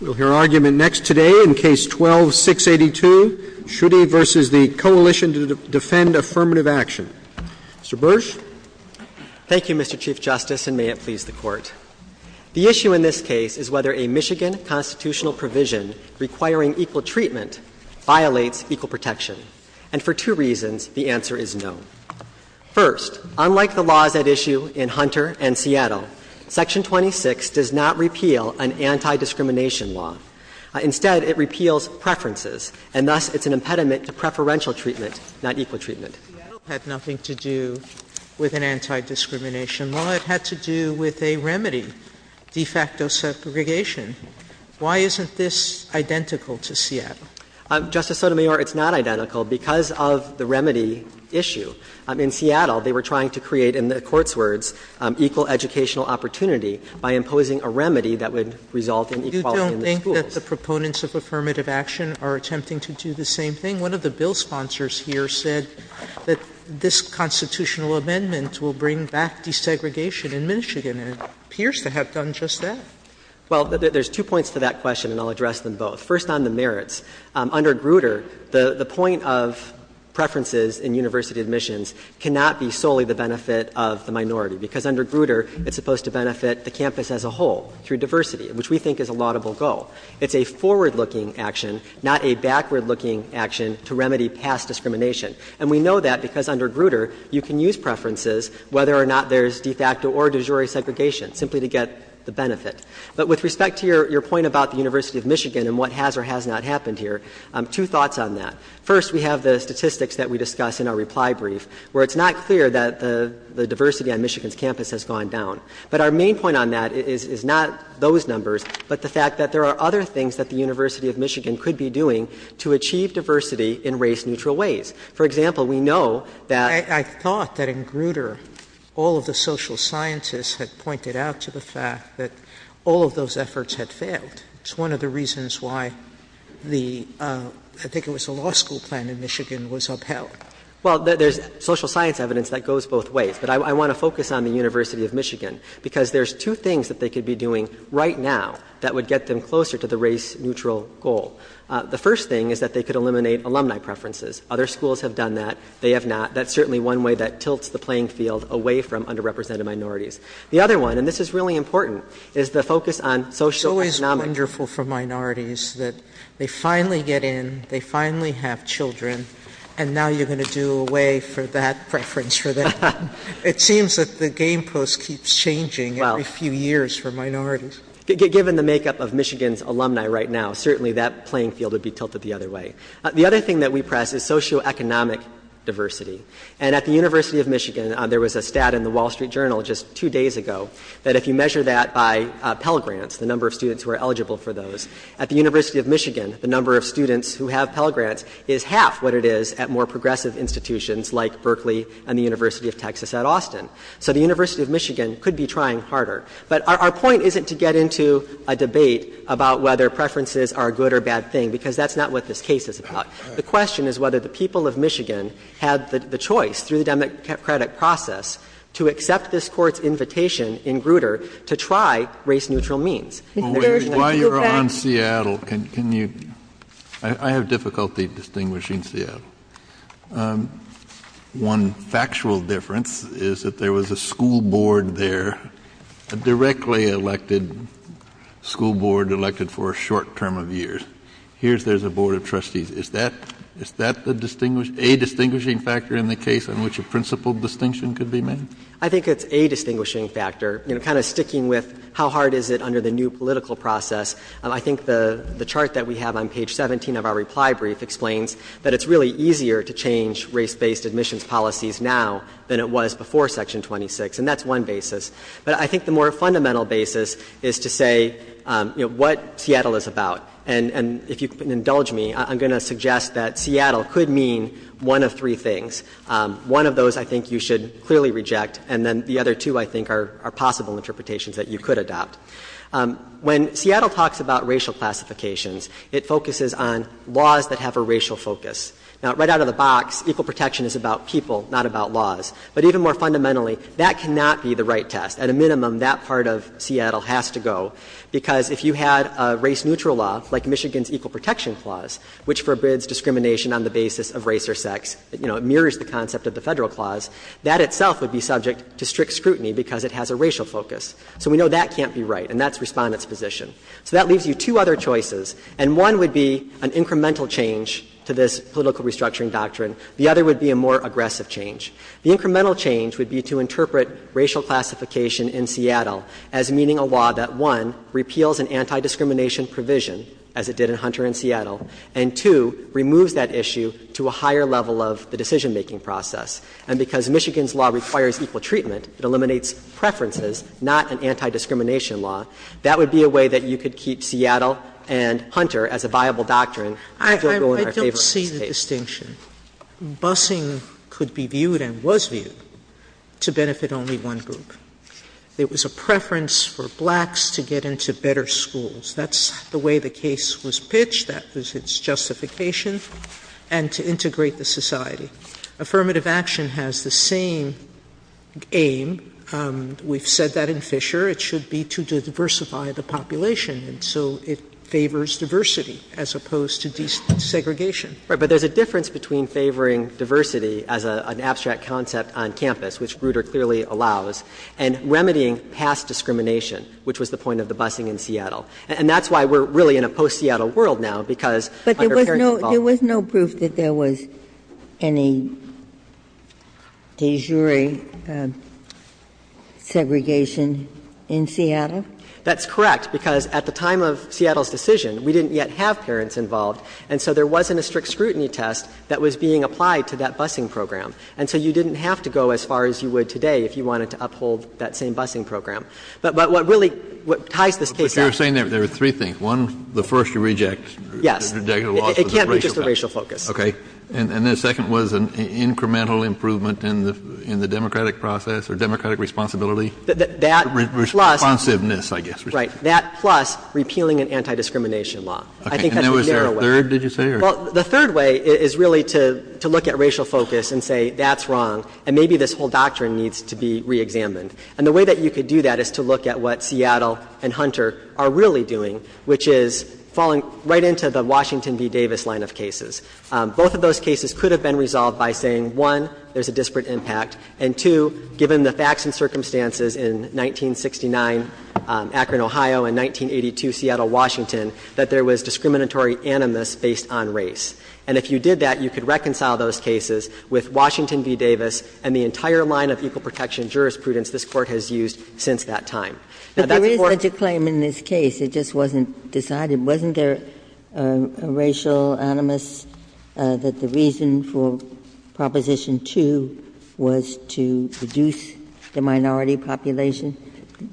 We'll hear argument next today in Case 12-682, Schuette v. the Coalition to Defend Affirmative Action. Mr. Bursch? Thank you, Mr. Chief Justice, and may it please the Court. The issue in this case is whether a Michigan constitutional provision requiring equal treatment violates equal protection. And for two reasons, the answer is no. First, unlike the laws at issue in Hunter and Seattle, Section 26 does not repeal an anti-discrimination law. Instead, it repeals preferences, and thus it's an impediment to preferential treatment, not equal treatment. Seattle had nothing to do with an anti-discrimination law. It had to do with a remedy, de facto segregation. Why isn't this identical to Seattle? Justice Sotomayor, it's not identical because of the remedy issue. In Seattle, they were trying to create, in the Court's words, equal educational opportunity by imposing a remedy that would result in equality in the schools. You don't think that the proponents of affirmative action are attempting to do the same thing? One of the bill sponsors here said that this constitutional amendment will bring back desegregation in Michigan, and it appears to have done just that. Well, there's two points to that question, and I'll address them both. First, on the merits. Under Grutter, the point of preferences in university admissions cannot be solely the benefit of the minority, because under Grutter, it's supposed to benefit the campus as a whole, through diversity, which we think is a laudable goal. It's a forward-looking action, not a backward-looking action, to remedy past discrimination. And we know that because under Grutter, you can use preferences, whether or not there's But with respect to your point about the University of Michigan and what has or has not happened here, two thoughts on that. First, we have the statistics that we discuss in our reply brief, where it's not clear that the diversity on Michigan's campus has gone down. But our main point on that is not those numbers, but the fact that there are other things that the University of Michigan could be doing to achieve diversity in race-neutral ways. For example, we know that in Grutter, all of the social scientists had pointed out to the fact that all of those efforts had failed. It's one of the reasons why the, I think it was the law school plan in Michigan was upheld. Well, there's social science evidence that goes both ways. But I want to focus on the University of Michigan, because there's two things that they could be doing right now that would get them closer to the race-neutral goal. The first thing is that they could eliminate alumni preferences. Other schools have done that. They have not. That's certainly one way that tilts the playing field away from underrepresented minorities. The other one, and this is really important, is the focus on socioeconomic It's always wonderful for minorities that they finally get in, they finally have children, and now you're going to do away for that preference for them. It seems that the game post keeps changing every few years for minorities. Given the makeup of Michigan's alumni right now, certainly that playing field would be tilted the other way. The other thing that we press is socioeconomic diversity. And at the University of Michigan, there was a stat in the Wall Street Journal just two days ago that if you measure that by Pell Grants, the number of students who are eligible for those, at the University of Michigan, the number of students who have Pell Grants is half what it is at more progressive institutions like Berkeley and the University of Texas at Austin. So the University of Michigan could be trying harder. But our point isn't to get into a debate about whether preferences are a good or bad thing. The question is whether the people of Michigan had the choice, through the democratic process, to accept this Court's invitation in Grutter to try race-neutral means. JUSTICE KENNEDY While you're on Seattle, can you — I have difficulty distinguishing Seattle. One factual difference is that there was a school board there, a directly elected school board elected for a short term of years. Here's — there's a board of trustees. Is that — is that the distinguish — a distinguishing factor in the case in which a principled distinction could be made? MR. CLEMENT I think it's a distinguishing factor, you know, kind of sticking with how hard is it under the new political process. I think the chart that we have on page 17 of our reply brief explains that it's really easier to change race-based admissions policies now than it was before Section 26. And that's one basis. But I think the more fundamental basis is to say, you know, what Seattle is about. And if you can indulge me, I'm going to suggest that Seattle could mean one of three things. One of those, I think, you should clearly reject. And then the other two, I think, are possible interpretations that you could adopt. When Seattle talks about racial classifications, it focuses on laws that have a racial focus. Now, right out of the box, equal protection is about people, not about laws. But even more fundamentally, that cannot be the right test. At a minimum, that part of Seattle has to go. Because if you had a race-neutral law, like Michigan's Equal Protection Clause, which forbids discrimination on the basis of race or sex, you know, it mirrors the concept of the Federal Clause, that itself would be subject to strict scrutiny because it has a racial focus. So we know that can't be right. And that's Respondent's position. So that leaves you two other choices. And one would be an incremental change to this political restructuring doctrine. The other would be a more aggressive change. The incremental change would be to interpret racial classification in Seattle as meeting a law that, one, repeals an anti-discrimination provision, as it did in Hunter and Seattle, and, two, removes that issue to a higher level of the decision-making process. And because Michigan's law requires equal treatment, it eliminates preferences, not an anti-discrimination law. That would be a way that you could keep Seattle and Hunter as a viable doctrine and still go in our favor in this case. Sotomayor's Justice, I think, is that in the case of discrimination, busing could be viewed and was viewed to benefit only one group. There was a preference for blacks to get into better schools. That's the way the case was pitched. That was its justification. And to integrate the society. Affirmative action has the same aim. We've said that in Fisher. It should be to diversify the population. And so it favors diversity as opposed to desegregation. Right. But there's a difference between favoring diversity as an abstract concept on campus, which Grutter clearly allows, and remedying past discrimination, which was the point of the busing in Seattle. And that's why we're really in a post-Seattle world now, because under parent involvement. But there was no proof that there was any de jure segregation in Seattle? That's correct, because at the time of Seattle's decision, we didn't yet have parents involved, and so there wasn't a strict scrutiny test that was being applied to that busing program. And so you didn't have to go as far as you would today if you wanted to uphold that same busing program. But what really ties this case out. But you're saying there are three things. One, the first you reject. Yes. It can't be just a racial focus. Okay. And the second was an incremental improvement in the democratic process or democratic responsibility? That plus. Responsiveness, I guess. Right. That plus repealing an anti-discrimination law. I think that's the narrow way. Okay. And there was a third, did you say? Well, the third way is really to look at racial focus and say that's wrong and maybe this whole doctrine needs to be reexamined. And the way that you could do that is to look at what Seattle and Hunter are really doing, which is falling right into the Washington v. Davis line of cases. Both of those cases could have been resolved by saying, one, there's a disparate And, two, given the facts and circumstances in 1969 Akron, Ohio, and 1982 Seattle, Washington, that there was discriminatory animus based on race. And if you did that, you could reconcile those cases with Washington v. Davis and the entire line of equal protection jurisprudence this Court has used since that time. Now, that's important. But there is such a claim in this case. It just wasn't decided. Wasn't there a racial animus that the reason for Proposition 2 was to reduce the minority population?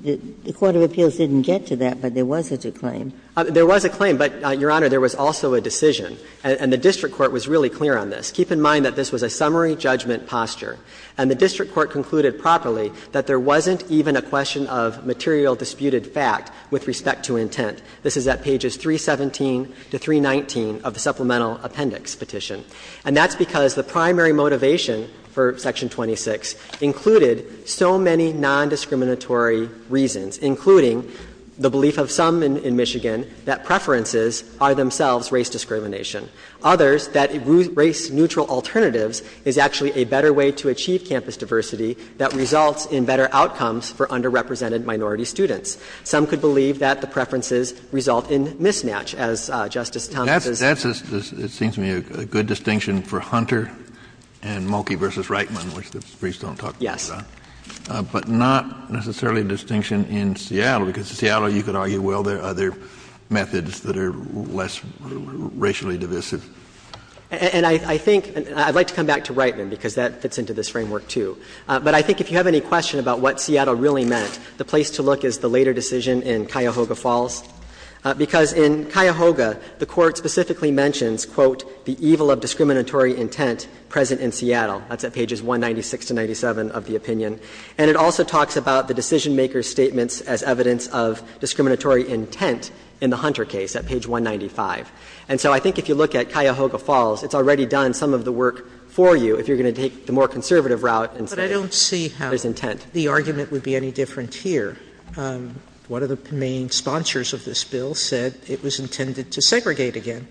The court of appeals didn't get to that, but there was such a claim. There was a claim, but, Your Honor, there was also a decision. And the district court was really clear on this. Keep in mind that this was a summary judgment posture. And the district court concluded properly that there wasn't even a question of material disputed fact with respect to intent. This is at pages 317 to 319 of the supplemental appendix petition. And that's because the primary motivation for Section 26 included so many nondiscriminatory reasons, including the belief of some in Michigan that preferences are themselves race discrimination, others that race-neutral alternatives is actually a better way to achieve campus diversity that results in better outcomes for underrepresented minority students. Some could believe that the preferences result in mismatch, as Justice Thomas is saying. Kennedy, it seems to me, a good distinction for Hunter and Mulkey v. Reitman, which the briefs don't talk about. Yes. But not necessarily a distinction in Seattle, because in Seattle, you could argue, well, there are other methods that are less racially divisive. And I think — and I'd like to come back to Reitman, because that fits into this framework, too. But I think if you have any question about what Seattle really meant, the place to look is the later decision in Cuyahoga Falls, because in Cuyahoga, the Court specifically mentions, quote, the evil of discriminatory intent present in Seattle. That's at pages 196 to 197 of the opinion. And it also talks about the decisionmaker's statements as evidence of discriminatory intent in the Hunter case at page 195. And so I think if you look at Cuyahoga Falls, it's already done some of the work for you if you're going to take the more conservative route and say there's intent. But the argument would be any different here. One of the main sponsors of this bill said it was intended to segregate again.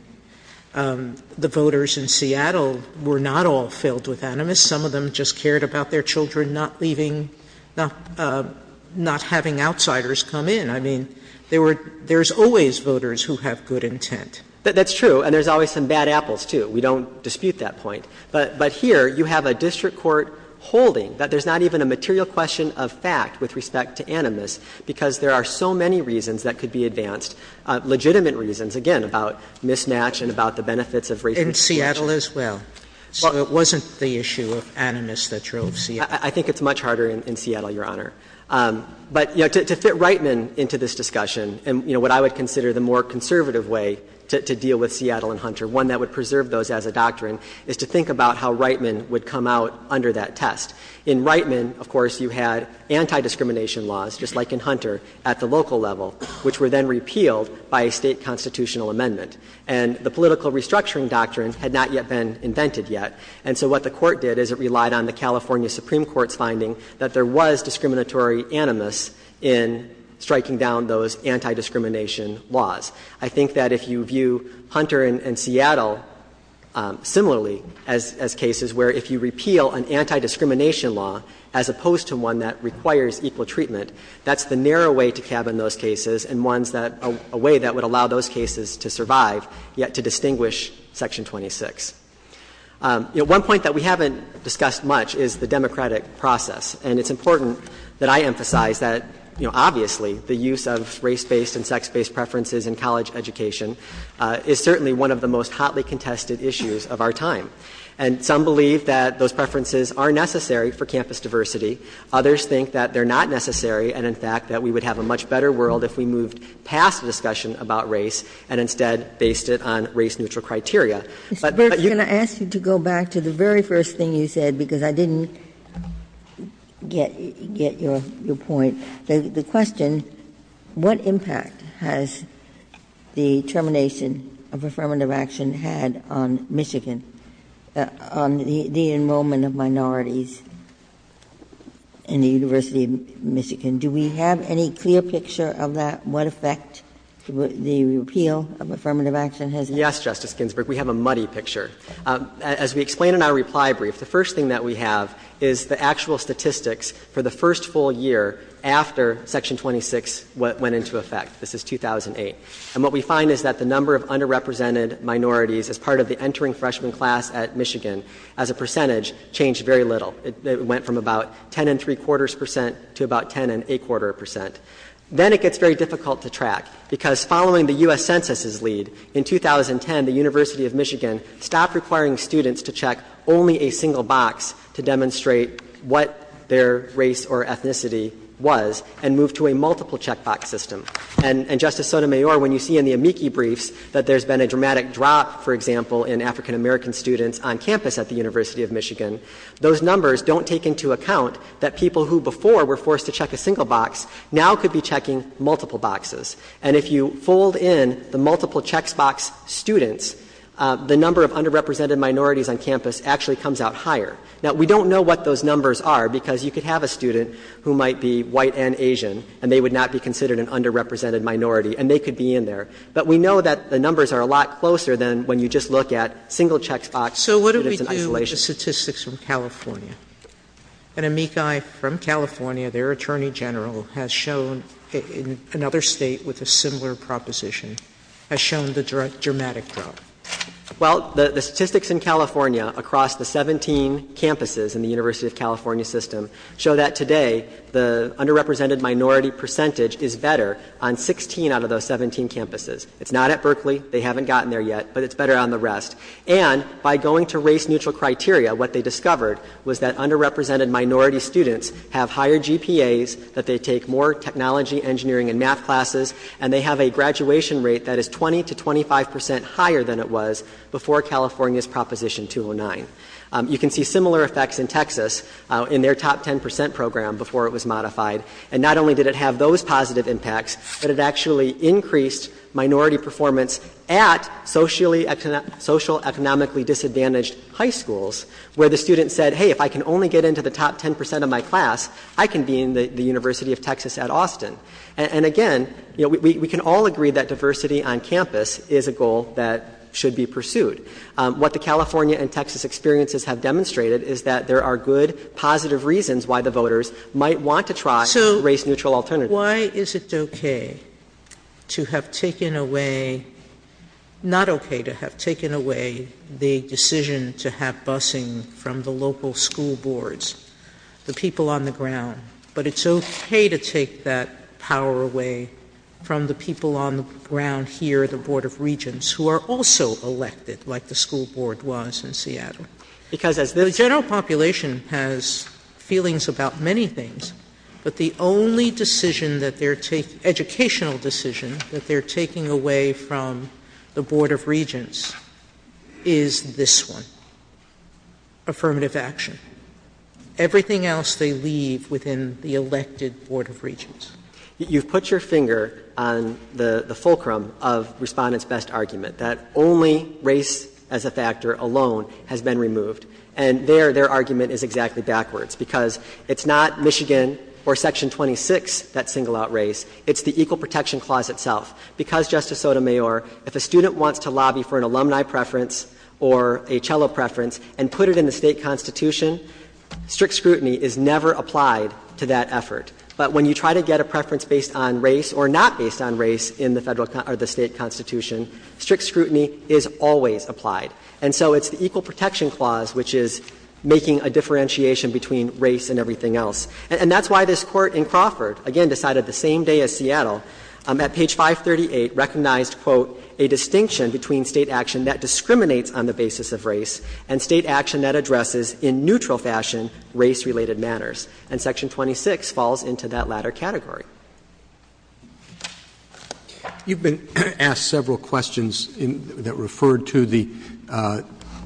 The voters in Seattle were not all filled with animus. Some of them just cared about their children not leaving — not having outsiders come in. I mean, there were — there's always voters who have good intent. That's true. And there's always some bad apples, too. We don't dispute that point. But here you have a district court holding that there's not even a material question of fact with respect to animus, because there are so many reasons that could be advanced, legitimate reasons, again, about mismatch and about the benefits of racial discrimination. Sotomayor In Seattle as well? So it wasn't the issue of animus that drove Seattle? I think it's much harder in Seattle, Your Honor. But, you know, to fit Reitman into this discussion, and, you know, what I would consider the more conservative way to deal with Seattle and Hunter, one that would be to think about how Reitman would come out under that test. In Reitman, of course, you had antidiscrimination laws, just like in Hunter, at the local level, which were then repealed by a State constitutional amendment. And the political restructuring doctrine had not yet been invented yet. And so what the Court did is it relied on the California Supreme Court's finding that there was discriminatory animus in striking down those antidiscrimination laws. I think that if you view Hunter and Seattle similarly as cases where if you repeal an antidiscrimination law as opposed to one that requires equal treatment, that's the narrow way to cabin those cases and ones that are a way that would allow those cases to survive, yet to distinguish Section 26. You know, one point that we haven't discussed much is the democratic process. And it's important that I emphasize that, you know, obviously the use of race-based and sex-based preferences in college education is certainly one of the most hotly contested issues of our time. And some believe that those preferences are necessary for campus diversity. Others think that they're not necessary and, in fact, that we would have a much better world if we moved past the discussion about race and instead based it on race-neutral criteria. But you can go back to the very first thing you said, because I didn't get your point. The question, what impact has the termination of affirmative action had on Michigan, on the enrollment of minorities in the University of Michigan? Do we have any clear picture of that, what effect the repeal of affirmative action has had? Yes, Justice Ginsburg, we have a muddy picture. As we explain in our reply brief, the first thing that we have is the actual statistics for the first full year after Section 26 went into effect. This is 2008. And what we find is that the number of underrepresented minorities as part of the entering freshman class at Michigan as a percentage changed very little. It went from about ten and three-quarters percent to about ten and eight-quarter percent. Then it gets very difficult to track, because following the U.S. Census' lead, in 2010, the University of Michigan stopped requiring students to check only a single box to demonstrate what their race or ethnicity was and moved to a multiple-check box system. And, Justice Sotomayor, when you see in the amici briefs that there's been a dramatic drop, for example, in African-American students on campus at the University of Michigan, those numbers don't take into account that people who before were forced to check a single box now could be checking multiple boxes. And if you fold in the multiple-check box students, the number of underrepresented minorities on campus actually comes out higher. Now, we don't know what those numbers are, because you could have a student who might be white and Asian, and they would not be considered an underrepresented minority, and they could be in there. But we know that the numbers are a lot closer than when you just look at single-check box students in isolation. Sotomayor. So what do we do with the statistics from California? An amici from California, their attorney general has shown in another State with a similar proposition, has shown the dramatic drop. Well, the statistics in California across the 17 campuses in the University of California system show that today the underrepresented minority percentage is better on 16 out of those 17 campuses. It's not at Berkeley. They haven't gotten there yet, but it's better on the rest. And by going to race-neutral criteria, what they discovered was that underrepresented minority students have higher GPAs, that they take more technology, engineering, and math classes, and they have a graduation rate that is 20 to 25 percent higher than it was before California's Proposition 209. You can see similar effects in Texas in their top 10 percent program before it was modified. And not only did it have those positive impacts, but it actually increased minority performance at socially, economically disadvantaged high schools, where the student said, hey, if I can only get into the top 10 percent of my class, I can be in the University of Texas at Austin. And, again, you know, we can all agree that diversity on campus is a goal that should be pursued. What the California and Texas experiences have demonstrated is that there are good, positive reasons why the voters might want to try race-neutral alternatives. So why is it okay to have taken away, not okay to have taken away the decision to have busing from the local school boards, the people on the ground, but it's okay to take that power away from the people on the ground here, the Board of Regents, who are also elected like the school board was in Seattle? The general population has feelings about many things, but the only decision that they are taking, educational decision that they are taking away from the Board of Regents is this one, affirmative action. Everything else they leave within the elected Board of Regents. You've put your finger on the fulcrum of Respondent's best argument, that only race as a factor alone has been removed. And there, their argument is exactly backwards, because it's not Michigan or Section 26 that single out race. It's the Equal Protection Clause itself. Because, Justice Sotomayor, if a student wants to lobby for an alumni preference or a cello preference and put it in the state constitution, strict scrutiny is never applied to that effort. But when you try to get a preference based on race or not based on race in the state constitution, strict scrutiny is always applied. And so it's the Equal Protection Clause which is making a differentiation between race and everything else. And that's why this Court in Crawford, again decided the same day as Seattle, at page 26, states on the basis of race and state action that addresses in neutral fashion race-related matters. And Section 26 falls into that latter category. Roberts. You've been asked several questions that referred to the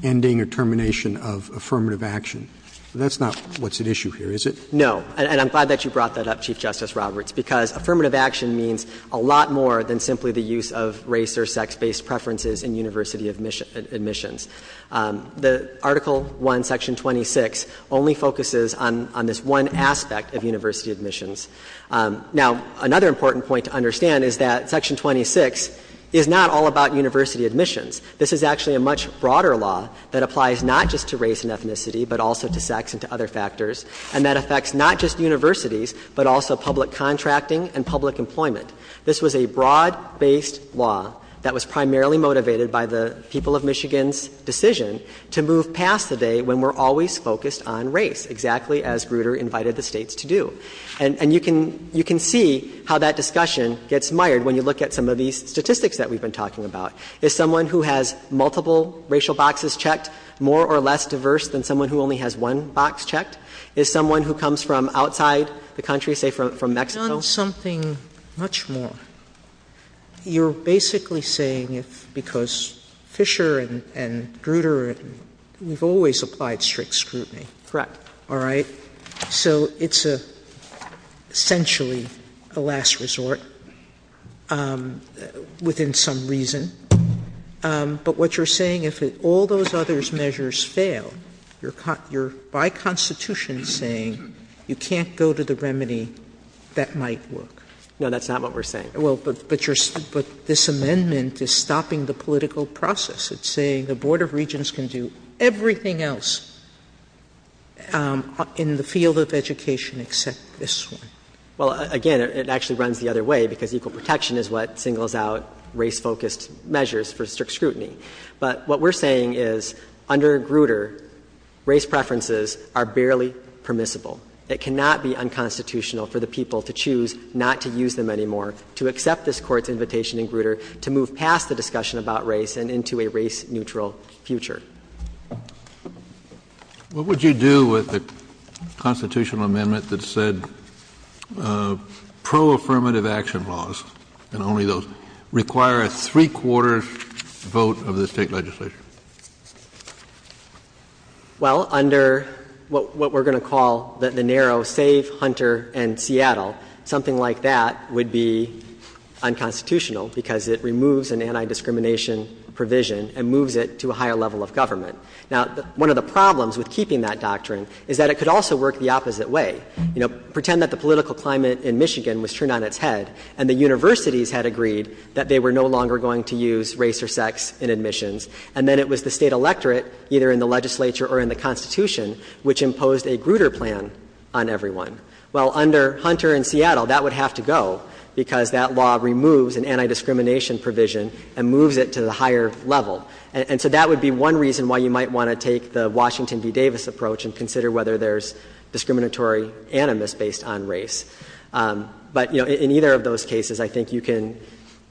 ending or termination of affirmative action. That's not what's at issue here, is it? No. And I'm glad that you brought that up, Chief Justice Roberts, because affirmative action means a lot more than simply the use of race or sex-based preferences in university admissions. The Article 1, Section 26 only focuses on this one aspect of university admissions. Now, another important point to understand is that Section 26 is not all about university admissions. This is actually a much broader law that applies not just to race and ethnicity, but also to sex and to other factors, and that affects not just universities, but also public contracting and public employment. This was a broad-based law that was primarily motivated by the people of Michigan's decision to move past the day when we're always focused on race, exactly as Grutter invited the States to do. And you can see how that discussion gets mired when you look at some of these statistics that we've been talking about. Is someone who has multiple racial boxes checked more or less diverse than someone who only has one box checked? Is someone who comes from outside the country, say from Mexico? Sotomayor, you've done something much more. You're basically saying because Fisher and Grutter, we've always applied strict scrutiny. Correct. All right? So it's essentially a last resort within some reason. But what you're saying, if all those other measures fail, you're by Constitution saying you can't go to the remedy that might work. No, that's not what we're saying. Well, but this amendment is stopping the political process. It's saying the Board of Regents can do everything else in the field of education except this one. Well, again, it actually runs the other way, because equal protection is what singles out race-focused measures for strict scrutiny. But what we're saying is under Grutter, race preferences are barely permissible. It cannot be unconstitutional for the people to choose not to use them anymore, to accept this Court's invitation in Grutter to move past the discussion about race and into a race-neutral future. What would you do with a constitutional amendment that said pro-affirmative action laws, and only those, require a three-quarters vote of the State legislature? Well, under what we're going to call the narrow Save Hunter and Seattle, something like that would be unconstitutional because it removes an anti-discrimination provision and moves it to a higher level of government. Now, one of the problems with keeping that doctrine is that it could also work the opposite way. You know, pretend that the political climate in Michigan was turned on its head and the universities had agreed that they were no longer going to use race or sex in admissions, and then it was the State electorate, either in the legislature or in the Constitution, which imposed a Grutter plan on everyone. Well, under Hunter and Seattle, that would have to go because that law removes an anti-discrimination provision and moves it to the higher level. And so that would be one reason why you might want to take the Washington v. Davis approach and consider whether there's discriminatory animus based on race. But, you know, in either of those cases, I think you can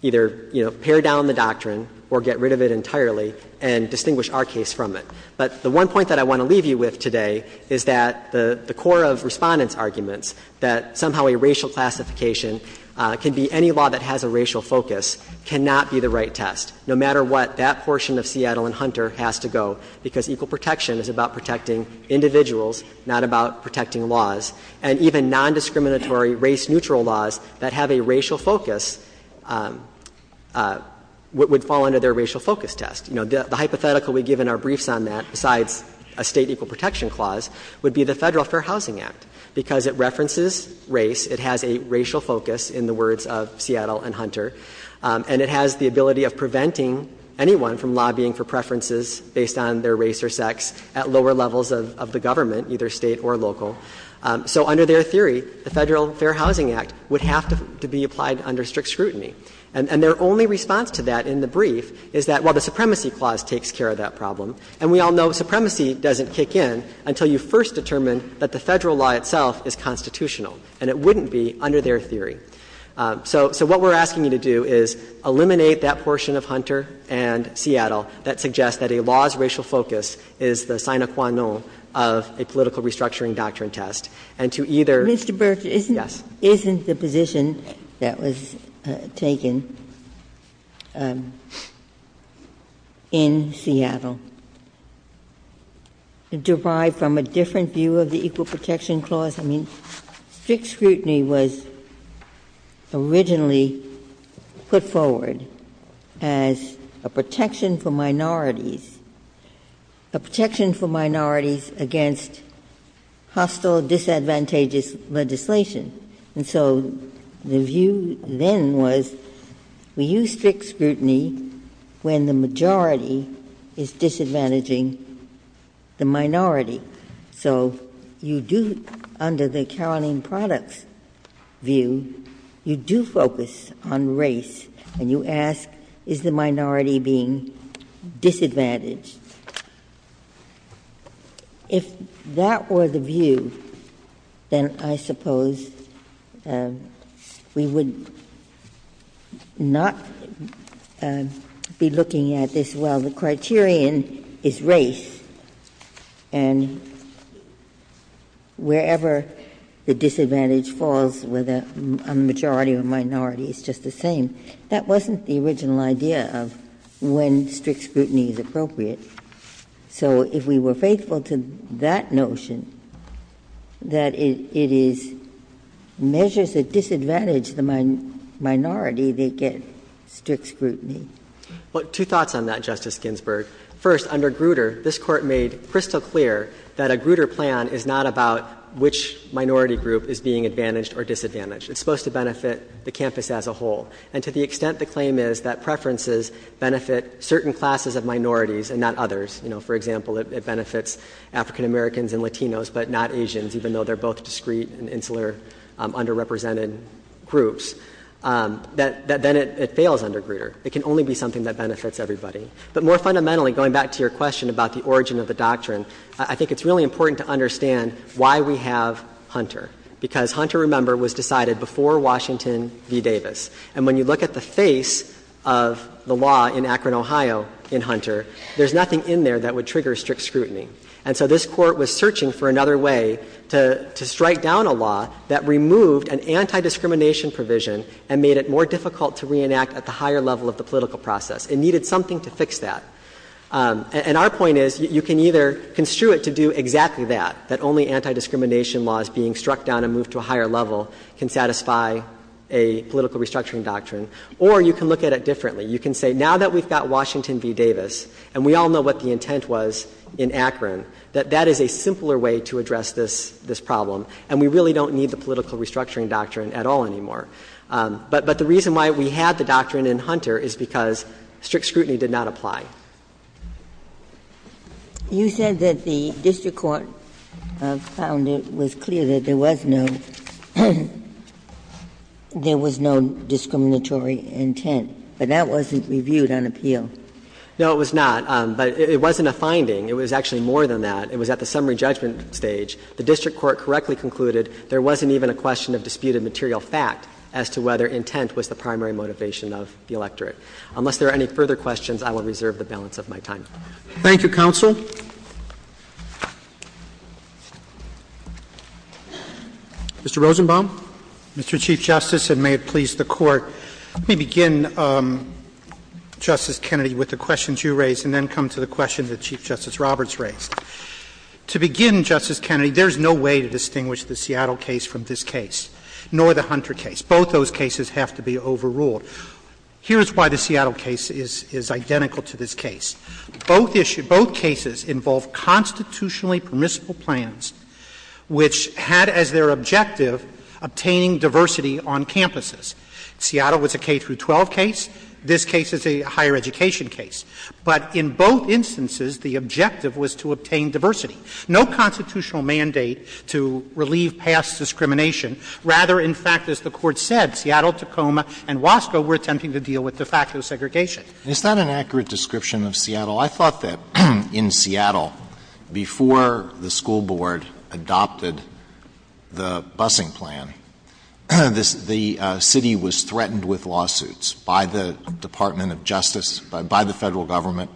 either, you know, pare down the doctrine or get rid of it entirely and distinguish our case from it. But the one point that I want to leave you with today is that the core of Respondent's arguments that somehow a racial classification can be any law that has a racial focus cannot be the right test, no matter what that portion of Seattle and Hunter has to go, because equal protection is about protecting individuals, not about protecting laws. And even nondiscriminatory race-neutral laws that have a racial focus would fall under their racial focus test. You know, the hypothetical we give in our briefs on that, besides a State equal protection clause, would be the Federal Fair Housing Act, because it references race, it has a racial focus in the words of Seattle and Hunter, and it has the ability of preventing anyone from lobbying for preferences based on their race or sex at lower levels of the government, either State or local. So under their theory, the Federal Fair Housing Act would have to be applied under strict scrutiny. And their only response to that in the brief is that, well, the supremacy clause takes care of that problem, and we all know supremacy doesn't kick in until you first determine that the Federal law itself is constitutional, and it wouldn't be under their theory. So what we're asking you to do is eliminate that portion of Hunter and Seattle that suggests that a law's racial focus is the sine qua non of a political restructuring doctrine test, and to either — Ginsburg. Yes. Ginsburg. Mr. Burke, isn't the position that was taken in Seattle derived from a different view of the equal protection clause? I mean, strict scrutiny was originally put forward as a protection for minorities — a protection for minorities against hostile, disadvantageous legislation. And so the view then was we use strict scrutiny when the majority is disadvantaging the minority. So you do, under the Caroline Products view, you do focus on race, and you ask is the minority being disadvantaged. If that were the view, then I suppose we would not be looking at this, well, the criterion is race, and wherever the disadvantage falls with a majority or minority, it's just the same. That wasn't the original idea of when strict scrutiny is appropriate. So if we were faithful to that notion, that it is measures that disadvantage the minority, they get strict scrutiny. Well, two thoughts on that, Justice Ginsburg. First, under Grutter, this Court made crystal clear that a Grutter plan is not about which minority group is being advantaged or disadvantaged. It's supposed to benefit the campus as a whole. And to the extent the claim is that preferences benefit certain classes of minorities and not others, you know, for example, it benefits African-Americans and Latinos, but not Asians, even though they're both discreet and insular, underrepresented groups, that then it fails under Grutter. It can only be something that benefits everybody. But more fundamentally, going back to your question about the origin of the doctrine, I think it's really important to understand why we have Hunter, because Hunter, remember, was decided before Washington v. Davis. And when you look at the face of the law in Akron, Ohio, in Hunter, there's nothing in there that would trigger strict scrutiny. And so this Court was searching for another way to strike down a law that removed an anti-discrimination provision and made it more difficult to reenact at the higher level of the political process. It needed something to fix that. And our point is, you can either construe it to do exactly that, that only anti-discrimination laws being struck down and moved to a higher level can satisfy a political restructuring doctrine, or you can look at it differently. You can say, now that we've got Washington v. Davis, and we all know what the intent was in Akron, that that is a simpler way to address this problem, and we really don't need the political restructuring doctrine at all anymore. But the reason why we have the doctrine in Hunter is because strict scrutiny did not apply. You said that the district court found it was clear that there was no discriminatory intent, but that wasn't reviewed on appeal. No, it was not. But it wasn't a finding. It was actually more than that. It was at the summary judgment stage. The district court correctly concluded there wasn't even a question of disputed material fact as to whether intent was the primary motivation of the electorate. Unless there are any further questions, I will reserve the balance of my time. Thank you, counsel. Mr. Rosenbaum. Mr. Chief Justice, and may it please the Court, let me begin, Justice Kennedy, with the questions you raised and then come to the question that Chief Justice Roberts raised. To begin, Justice Kennedy, there is no way to distinguish the Seattle case from this case, nor the Hunter case. Both those cases have to be overruled. Here is why the Seattle case is identical to this case. Both cases involve constitutionally permissible plans which had as their objective obtaining diversity on campuses. Seattle was a K-12 case. This case is a higher education case. But in both instances, the objective was to obtain diversity. No constitutional mandate to relieve past discrimination. Rather, in fact, as the Court said, Seattle, Tacoma, and Wasco were attempting to deal with de facto segregation. It's not an accurate description of Seattle. I thought that in Seattle, before the school board adopted the busing plan, the city was threatened with lawsuits by the Department of Justice, by the Federal Government,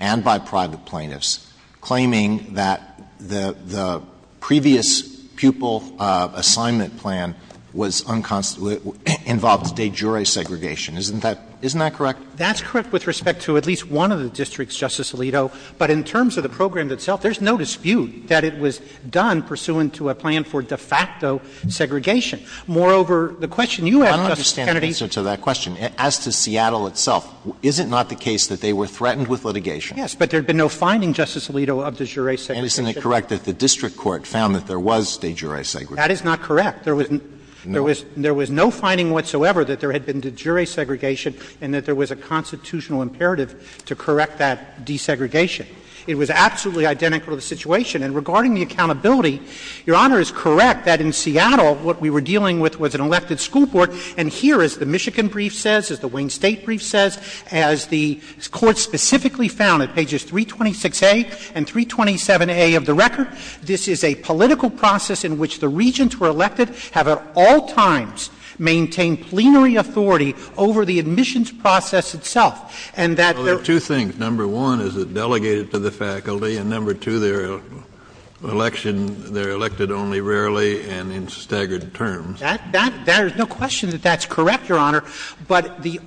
and by private plaintiffs, claiming that the previous pupil assignment plan was unconstitutional and involved de jure segregation. Isn't that correct? That's correct with respect to at least one of the districts, Justice Alito. But in terms of the program itself, there is no dispute that it was done pursuant to a plan for de facto segregation. Moreover, the question you asked, Justice Kennedy. Alito, I don't understand the answer to that question. As to Seattle itself, is it not the case that they were threatened with litigation? Yes, but there had been no finding, Justice Alito, of de jure segregation. And isn't it correct that the district court found that there was de jure segregation? That is not correct. There was no finding whatsoever that there had been de jure segregation and that there was a constitutional imperative to correct that desegregation. It was absolutely identical to the situation. And regarding the accountability, Your Honor is correct that in Seattle what we were dealing with was an elected school board. And here, as the Michigan brief says, as the Wayne State brief says, as the Court specifically found at pages 326A and 327A of the record, this is a political process in which the regents were elected, have at all times maintained plenary authority over the admissions process itself. And that there are two things. Number one, is it delegated to the faculty. And number two, their election, they're elected only rarely and in staggered terms. That — there's no question that that's correct, Your Honor. But the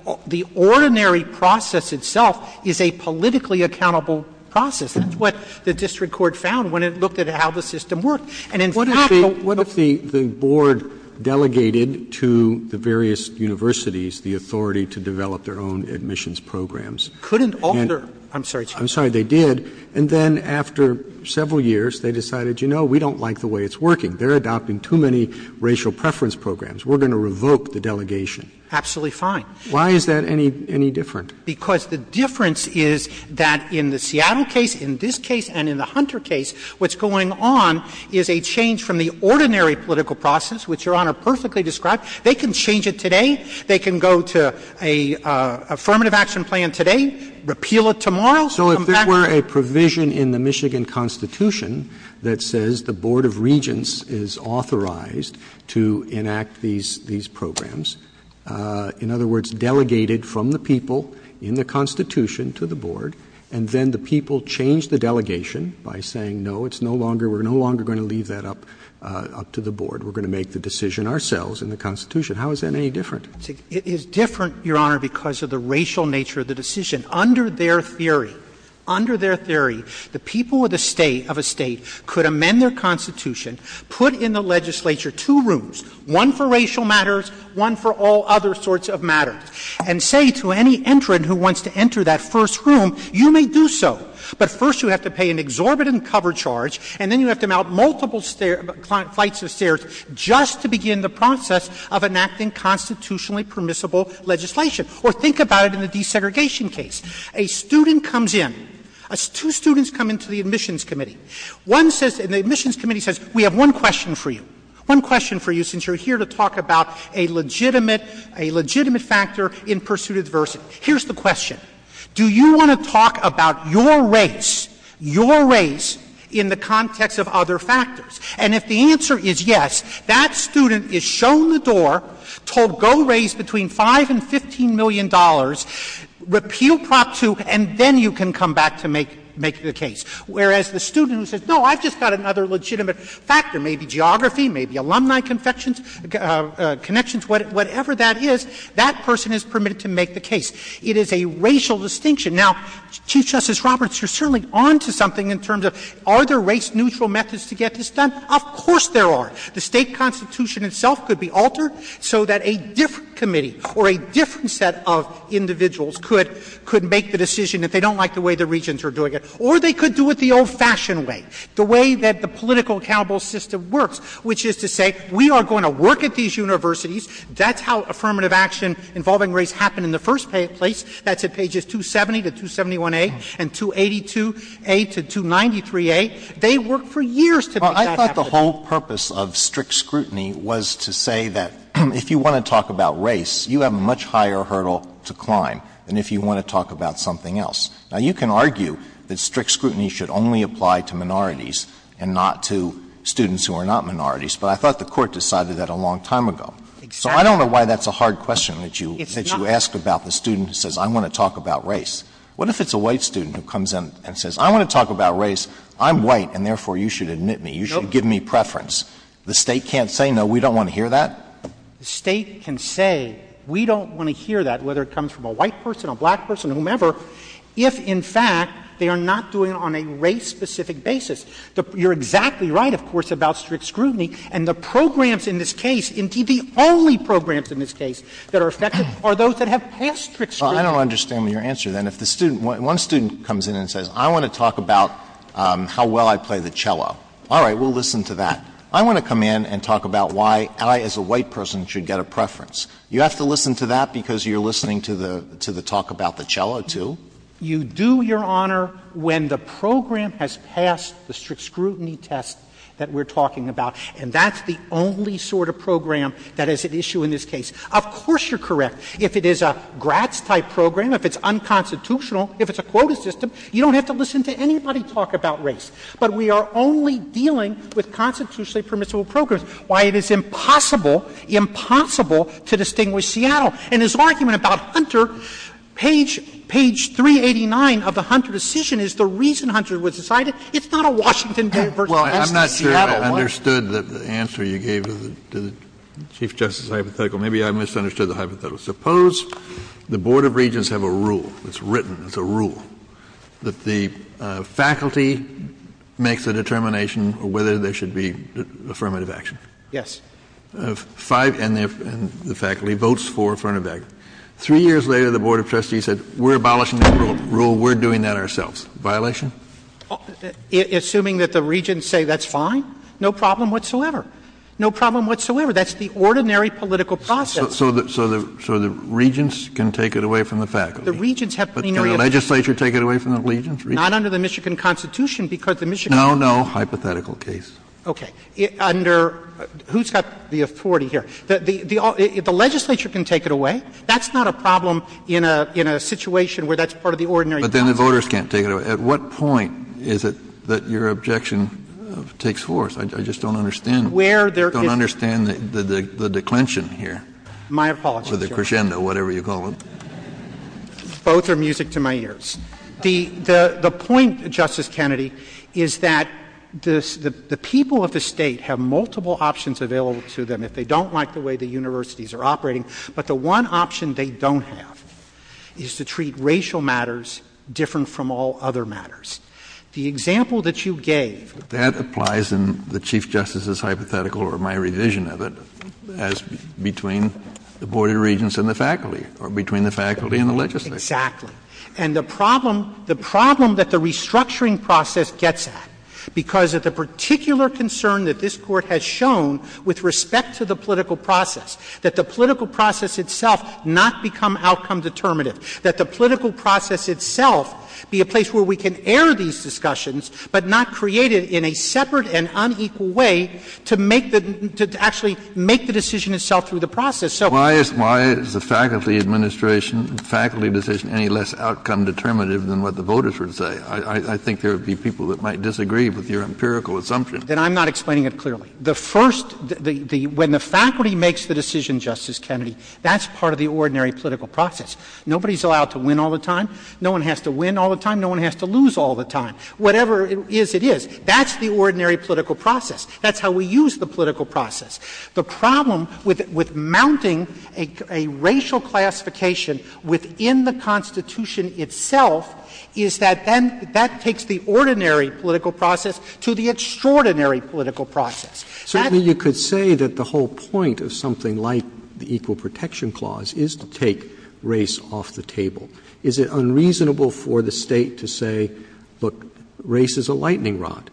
ordinary process itself is a politically accountable process. That's what the district court found when it looked at how the system worked. And in fact, the— What if the board delegated to the various universities the authority to develop their own admissions programs? Couldn't alter. I'm sorry. I'm sorry. They did. And then after several years, they decided, you know, we don't like the way it's working. They're adopting too many racial preference programs. We're going to revoke the delegation. Absolutely fine. Why is that any different? Because the difference is that in the Seattle case, in this case, and in the Hunter case, what's going on is a change from the ordinary political process, which Your Honor perfectly described. They can change it today. They can go to an affirmative action plan today, repeal it tomorrow. So if there were a provision in the Michigan Constitution that says the board of regents is authorized to enact these programs, in other words, delegated from the people in the Constitution to the board, and then the people change the delegation by saying no, it's no longer, we're no longer going to leave that up to the board. We're going to make the decision ourselves in the Constitution. How is that any different? It is different, Your Honor, because of the racial nature of the decision. Under their theory, under their theory, the people of the State, of a State, could put in the legislature two rooms, one for racial matters, one for all other sorts of matters, and say to any entrant who wants to enter that first room, you may do so. But first you have to pay an exorbitant cover charge, and then you have to mount multiple flights of stairs just to begin the process of enacting constitutionally permissible legislation. Or think about it in the desegregation case. A student comes in. Two students come into the admissions committee. One says, and the admissions committee says, we have one question for you, one question for you since you're here to talk about a legitimate, a legitimate factor in pursuit of diversity. Here's the question. Do you want to talk about your race, your race, in the context of other factors? And if the answer is yes, that student is shown the door, told go raise between $5 and $15 million, repeal Prop 2, and then you can come back to make, make the case. Whereas the student who says, no, I've just got another legitimate factor, maybe geography, maybe alumni confections, connections, whatever that is, that person is permitted to make the case. It is a racial distinction. Now, Chief Justice Roberts, you're certainly on to something in terms of are there race-neutral methods to get this done? Of course there are. The State constitution itself could be altered so that a different committee or a different set of individuals could make the decision if they don't like the way the regents are doing it. Or they could do it the old-fashioned way, the way that the political accountable system works, which is to say we are going to work at these universities. That's how affirmative action involving race happened in the first place. That's at pages 270 to 271a and 282a to 293a. They worked for years to make that happen. Well, I thought the whole purpose of strict scrutiny was to say that if you want to talk about race, you have a much higher hurdle to climb than if you want to talk about something else. Now, you can argue that strict scrutiny should only apply to minorities and not to students who are not minorities, but I thought the Court decided that a long time ago. Exactly. So I don't know why that's a hard question that you ask about the student who says I want to talk about race. What if it's a white student who comes in and says I want to talk about race, I'm white, and therefore you should admit me, you should give me preference. The State can't say no, we don't want to hear that? The State can say we don't want to hear that, whether it comes from a white person, a black person, whomever, if in fact they are not doing it on a race-specific basis. You're exactly right, of course, about strict scrutiny. And the programs in this case, indeed the only programs in this case that are effective are those that have passed strict scrutiny. Well, I don't understand your answer then. If the student, one student comes in and says I want to talk about how well I play the cello. All right, we'll listen to that. I want to come in and talk about why I as a white person should get a preference. You have to listen to that because you're listening to the talk about the cello, too? You do, Your Honor, when the program has passed the strict scrutiny test that we're talking about. And that's the only sort of program that is at issue in this case. Of course you're correct. If it is a Gratz-type program, if it's unconstitutional, if it's a quota system, you don't have to listen to anybody talk about race. But we are only dealing with constitutionally permissible programs. Why it is impossible, impossible to distinguish Seattle. And his argument about Hunter, page 389 of the Hunter decision is the reason Hunter was decided. It's not a Washington v. Seattle. Kennedy. Well, I'm not sure I understood the answer you gave to the Chief Justice hypothetical. Maybe I misunderstood the hypothetical. Suppose the Board of Regents have a rule, it's written, it's a rule, that the faculty makes a determination of whether there should be affirmative action. Yes. Five, and the faculty votes for affirmative action. Three years later, the Board of Trustees said, we're abolishing the rule, we're doing that ourselves. Violation? Assuming that the Regents say that's fine, no problem whatsoever. No problem whatsoever. That's the ordinary political process. So the Regents can take it away from the faculty. The Regents have plenary opinion. But can the legislature take it away from the Regents? Not under the Michigan Constitution, because the Michigan Constitution No, no. Hypothetical case. Okay. Under who's got the authority here? The legislature can take it away. That's not a problem in a situation where that's part of the ordinary process. But then the voters can't take it away. At what point is it that your objection takes force? I just don't understand. Where there is I don't understand the declension here. My apologies, Your Honor. Or the crescendo, whatever you call it. Both are music to my ears. The point, Justice Kennedy, is that the people of the State have multiple options available to them if they don't like the way the universities are operating. But the one option they don't have is to treat racial matters different from all other matters. The example that you gave That applies in the Chief Justice's hypothetical or my revision of it as between the Board of Regents and the faculty, or between the faculty and the legislature. Exactly. And the problem, the problem that the restructuring process gets at, because of the particular concern that this Court has shown with respect to the political process, that the political process itself not become outcome determinative, that the political process itself be a place where we can air these discussions, but not create it in a separate and unequal way to make the, to actually make the decision itself through the process. Why is the faculty administration, faculty decision, any less outcome determinative than what the voters would say? I think there would be people that might disagree with your empirical assumption. Then I'm not explaining it clearly. The first, when the faculty makes the decision, Justice Kennedy, that's part of the ordinary political process. Nobody is allowed to win all the time. No one has to win all the time. No one has to lose all the time. Whatever it is, it is. That's the ordinary political process. That's how we use the political process. The problem with mounting a racial classification within the Constitution itself is that then that takes the ordinary political process to the extraordinary political process. Roberts. Certainly you could say that the whole point of something like the Equal Protection Clause is to take race off the table. Is it unreasonable for the State to say, look, race is a lightning rod?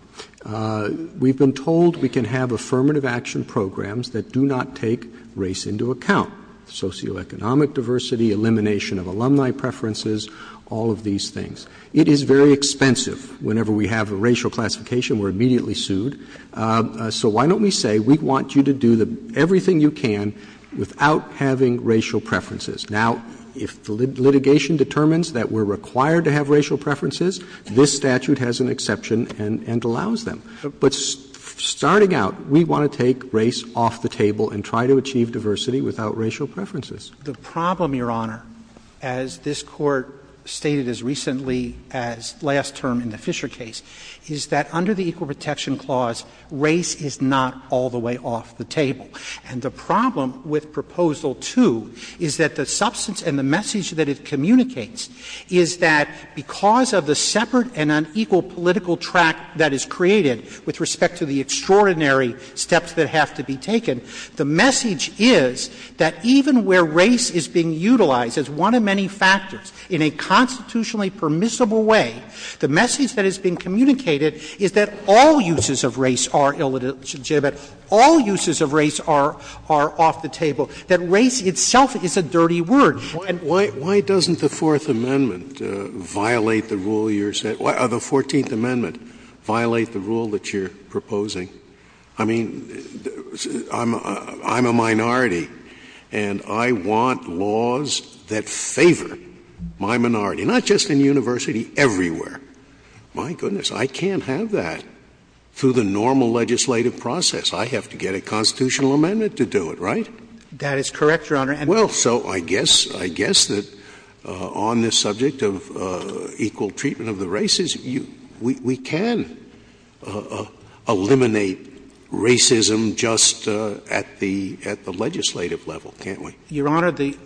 We've been told we can have affirmative action programs that do not take race into account, socioeconomic diversity, elimination of alumni preferences, all of these things. It is very expensive. Whenever we have a racial classification, we're immediately sued. So why don't we say we want you to do everything you can without having racial preferences? Now, if the litigation determines that we're required to have racial preferences, this statute has an exception and allows them. But starting out, we want to take race off the table and try to achieve diversity without racial preferences. The problem, Your Honor, as this Court stated as recently as last term in the Fisher case, is that under the Equal Protection Clause, race is not all the way off the table. And the problem with Proposal 2 is that the substance and the message that it communicates is that because of the separate and unequal political track that is created with respect to the extraordinary steps that have to be taken, the message is that even where race is being utilized as one of many factors in a constitutionally permissible way, the message that is being communicated is that all uses of race are illegitimate, all uses of race are off the table, that race itself is a dirty word. Scalia Why doesn't the Fourth Amendment violate the rule you're saying? The Fourteenth Amendment violate the rule that you're proposing? I mean, I'm a minority, and I want laws that favor my minority, not just in the university, everywhere. My goodness, I can't have that through the normal legislative process. I have to get a constitutional amendment to do it, right? That is correct, Your Honor. Scalia Well, so I guess that on this subject of equal treatment of the races, we can eliminate racism just at the legislative level, can't we? Your Honor, the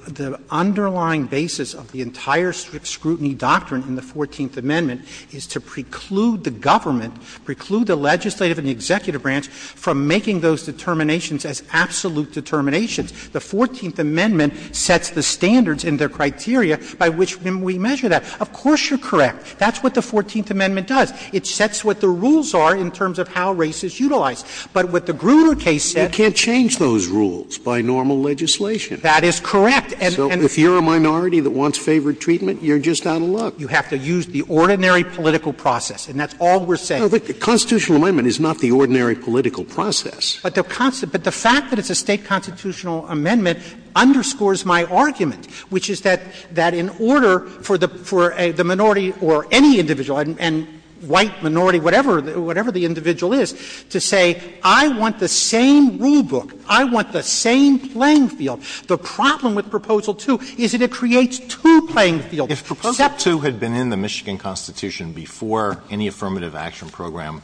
underlying basis of the entire scrutiny doctrine in the Fourteenth Amendment is to preclude the government, preclude the legislative and the executive branch from making those determinations as absolute determinations. The Fourteenth Amendment sets the standards and the criteria by which we measure that. Of course you're correct. That's what the Fourteenth Amendment does. It sets what the rules are in terms of how race is utilized. But what the Grutter case said. Scalia You can't change those rules by normal legislation. That is correct. And if you're a minority that wants favored treatment, you're just out of luck. You have to use the ordinary political process, and that's all we're saying. Scalia No, but the constitutional amendment is not the ordinary political process. But the fact that it's a State constitutional amendment underscores my argument, which is that in order for the minority or any individual, and white minority, whatever the individual is, to say I want the same rulebook, I want the same playing field, the problem with Proposal 2 is that it creates two playing fields. Alito If Proposal 2 had been in the Michigan Constitution before any affirmative action program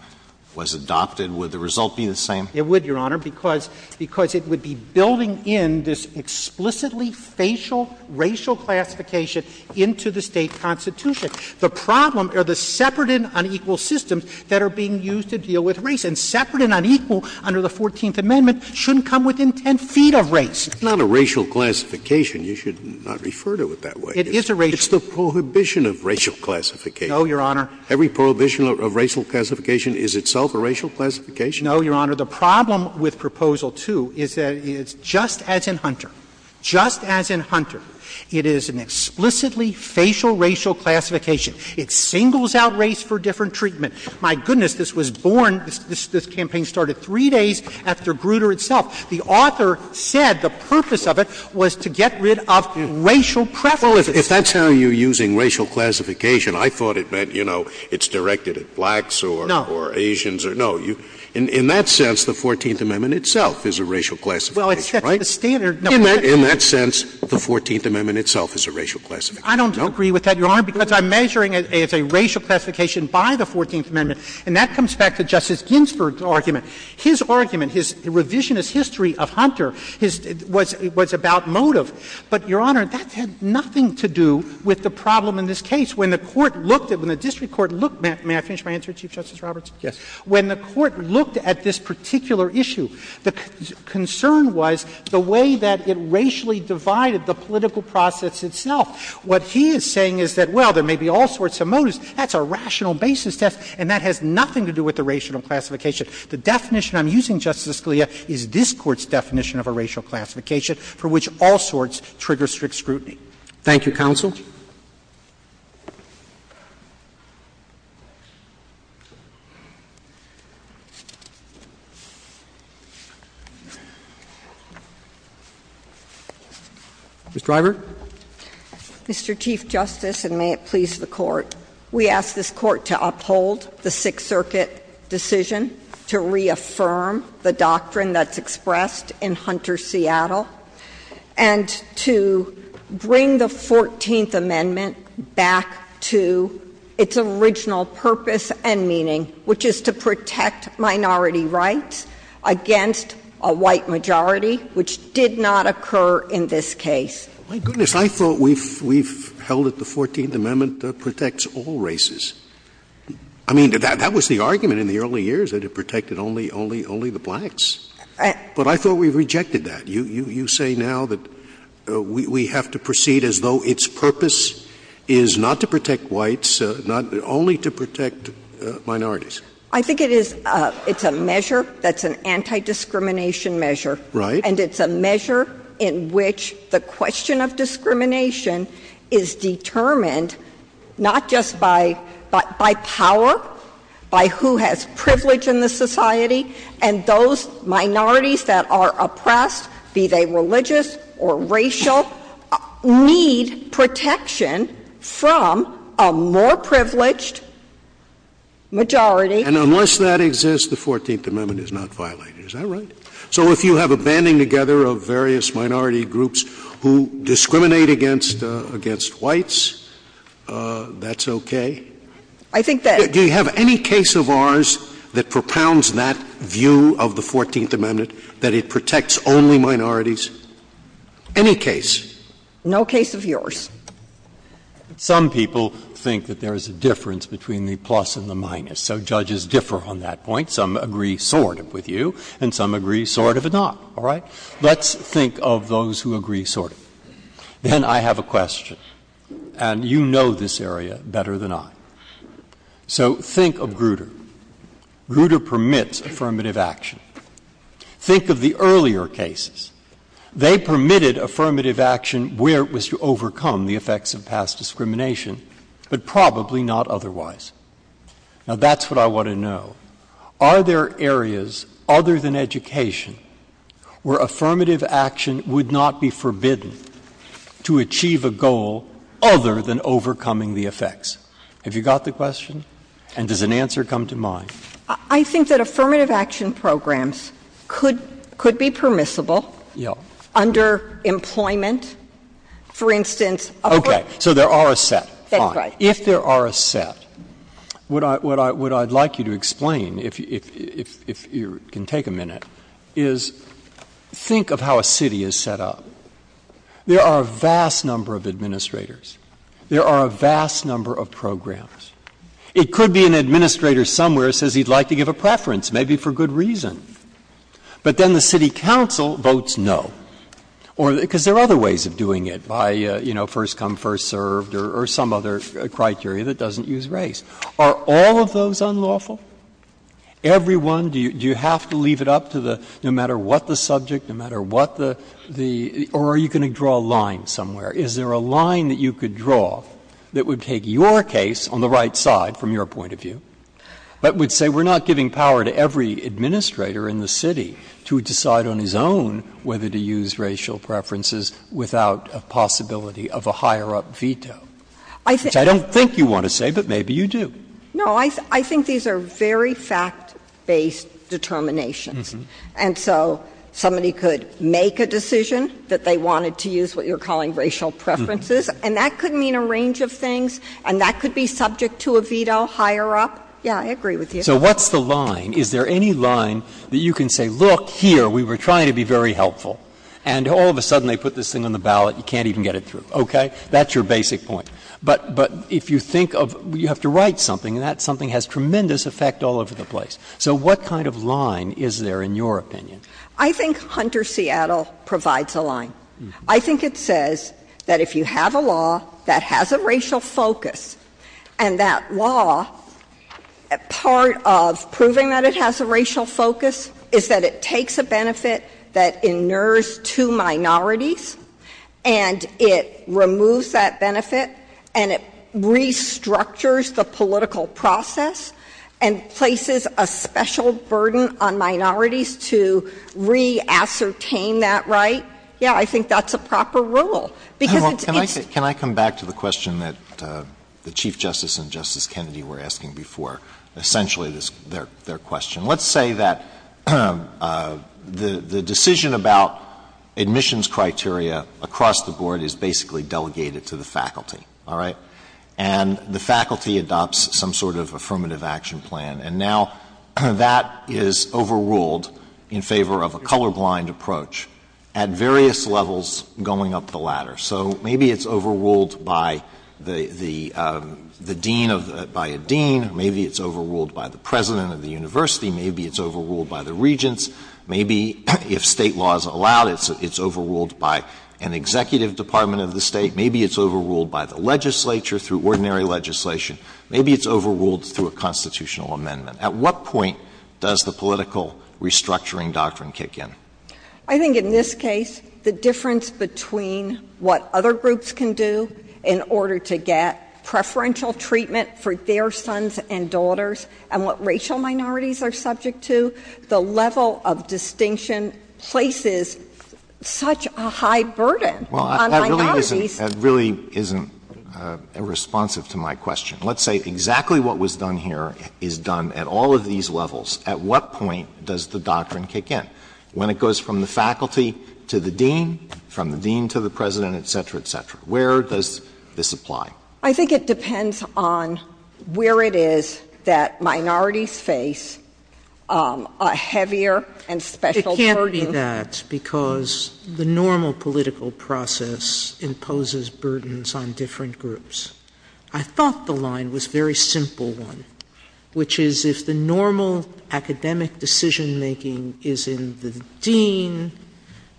was adopted, would the result be the same? Scalia It would, Your Honor, because it would be building in this explicitly facial racial classification into the State constitution. The problem are the separate and unequal systems that are being used to deal with race, and separate and unequal under the Fourteenth Amendment shouldn't come within 10 feet of race. Scalia It's not a racial classification. You should not refer to it that way. It's the prohibition of racial classification. Every prohibition of racial classification is itself a racial classification. Alito No, Your Honor. The problem with Proposal 2 is that it's just as in Hunter, just as in Hunter. It is an explicitly facial racial classification. It singles out race for different treatment. My goodness, this was born, this campaign started three days after Grutter itself. The author said the purpose of it was to get rid of racial preferences. Scalia Well, if that's how you're using racial classification, I thought it meant, you know, it's directed at blacks or Asians or no. Alito No. Scalia In that sense, the Fourteenth Amendment itself is a racial classification, right? Alito Well, that's the standard. Scalia In that sense, the Fourteenth Amendment itself is a racial classification. Alito I don't agree with that, Your Honor, because I'm measuring it as a racial classification by the Fourteenth Amendment, and that comes back to Justice Ginsburg's argument. His argument, his revisionist history of Hunter, his — was about motive. But, Your Honor, that had nothing to do with the problem in this case. When the Court looked at — when the district court looked — may I finish my answer, Chief Justice Roberts? Roberts Yes. Alito When the Court looked at this particular issue, the concern was the way that it racially divided the political process itself. What he is saying is that, well, there may be all sorts of motives. That's a rational basis test, and that has nothing to do with the racial classification. The definition I'm using, Justice Scalia, is this Court's definition of a racial classification for which all sorts trigger strict scrutiny. Roberts Thank you, counsel. Ms. Dreyer. Dreyer Mr. Chief Justice, and may it please the Court, we ask this Court to uphold the Sixth Amendment, to reaffirm the doctrine that's expressed in Hunter, Seattle, and to bring the Fourteenth Amendment back to its original purpose and meaning, which is to protect minority rights against a white majority, which did not occur in this case. Scalia My goodness. I thought we've held that the Fourteenth Amendment protects all races. I mean, that was the argument in the early years, that it protected only the blacks. But I thought we rejected that. You say now that we have to proceed as though its purpose is not to protect whites, only to protect minorities. Dreyer I think it's a measure that's an anti-discrimination measure. Scalia Right. Dreyer And unless that exists, the Fourteenth Amendment is not violated. Is that right? So if you have a banding together of various minority groups who discriminate against whites, that's okay? Do you have any case of ours that propounds that view of the Fourteenth Amendment, that it protects only minorities? Any case? Dreyer No case of yours. Breyer Some people think that there is a difference between the plus and the minus. So judges differ on that point. Some agree sort of with you, and some agree sort of not. All right? Let's think of those who agree sort of. Then I have a question, and you know this area better than I. So think of Grutter. Grutter permits affirmative action. Think of the earlier cases. They permitted affirmative action where it was to overcome the effects of past discrimination, but probably not otherwise. Now, that's what I want to know. Are there areas other than education where affirmative action would not be forbidden to achieve a goal other than overcoming the effects? Have you got the question? And does an answer come to mind? I think that affirmative action programs could be permissible under employment, for instance. Okay. So there are a set. That's right. If there are a set, what I would like you to explain, if you can take a minute, is think of how a city is set up. There are a vast number of administrators. There are a vast number of programs. It could be an administrator somewhere says he would like to give a preference, maybe for good reason. But then the city council votes no, because there are other ways of doing it by, you know, first come, first served or some other criteria that doesn't use race. Are all of those unlawful? Every one? Do you have to leave it up to the no matter what the subject, no matter what the or are you going to draw a line somewhere? Is there a line that you could draw that would take your case on the right side from your point of view, but would say we are not giving power to every administrator in the city to decide on his own whether to use racial preferences without a possibility of a higher-up veto, which I don't think you want to say, but maybe you do? No. I think these are very fact-based determinations. And so somebody could make a decision that they wanted to use what you are calling racial preferences, and that could mean a range of things, and that could be subject to a veto, higher-up. Yes, I agree with you. So what's the line? Is there any line that you can say, look, here, we were trying to be very helpful, and all of a sudden they put this thing on the ballot, you can't even get it through. Okay? That's your basic point. But if you think of you have to write something, and that something has tremendous effect all over the place. So what kind of line is there in your opinion? I think Hunter Seattle provides a line. I think it says that if you have a law that has a racial focus and that law, part of proving that it has a racial focus, is that it takes a benefit that inures two minorities, and it removes that benefit, and it restructures the political process and places a special burden on minorities to re-ascertain that right, yes, I think that's a proper rule. Can I come back to the question that the Chief Justice and Justice Kennedy were asking before, essentially their question? Let's say that the decision about admissions criteria across the board is basically delegated to the faculty, all right? And the faculty adopts some sort of affirmative action plan. And now that is overruled in favor of a colorblind approach at various levels going up the ladder. So maybe it's overruled by the dean, maybe it's overruled by the president of the university, maybe it's overruled by the regents, maybe, if State law is allowed, it's overruled by an executive department of the State, maybe it's overruled by the legislature through ordinary legislation, maybe it's overruled through a constitutional amendment. At what point does the political restructuring doctrine kick in? I think in this case the difference between what other groups can do in order to get preferential treatment for their sons and daughters and what racial minorities are subject to, the level of distinction places such a high burden on minorities. Well, that really isn't responsive to my question. Let's say exactly what was done here is done at all of these levels. At what point does the doctrine kick in? When it goes from the faculty to the dean, from the dean to the president, et cetera, et cetera. Where does this apply? I think it depends on where it is that minorities face a heavier and special burden. It can't be that, because the normal political process imposes burdens on different groups. I thought the line was a very simple one, which is if the normal academic decision making is in the dean,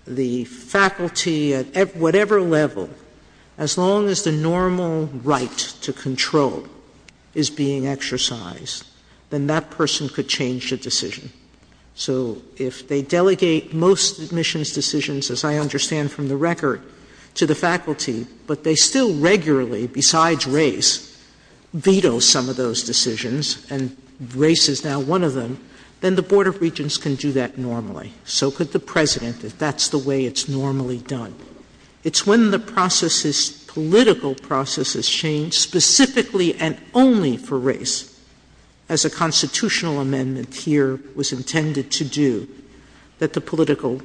the faculty, at whatever level, as long as the normal right to control is being exercised, then that person could change the decision. So if they delegate most admissions decisions, as I understand from the record, to the faculty, but they still regularly, besides race, veto some of those decisions and race is now one of them, then the Board of Regents can do that normally. So could the president, if that's the way it's normally done. It's when the processes, political processes change, specifically and only for race, as a constitutional amendment here was intended to do, that the political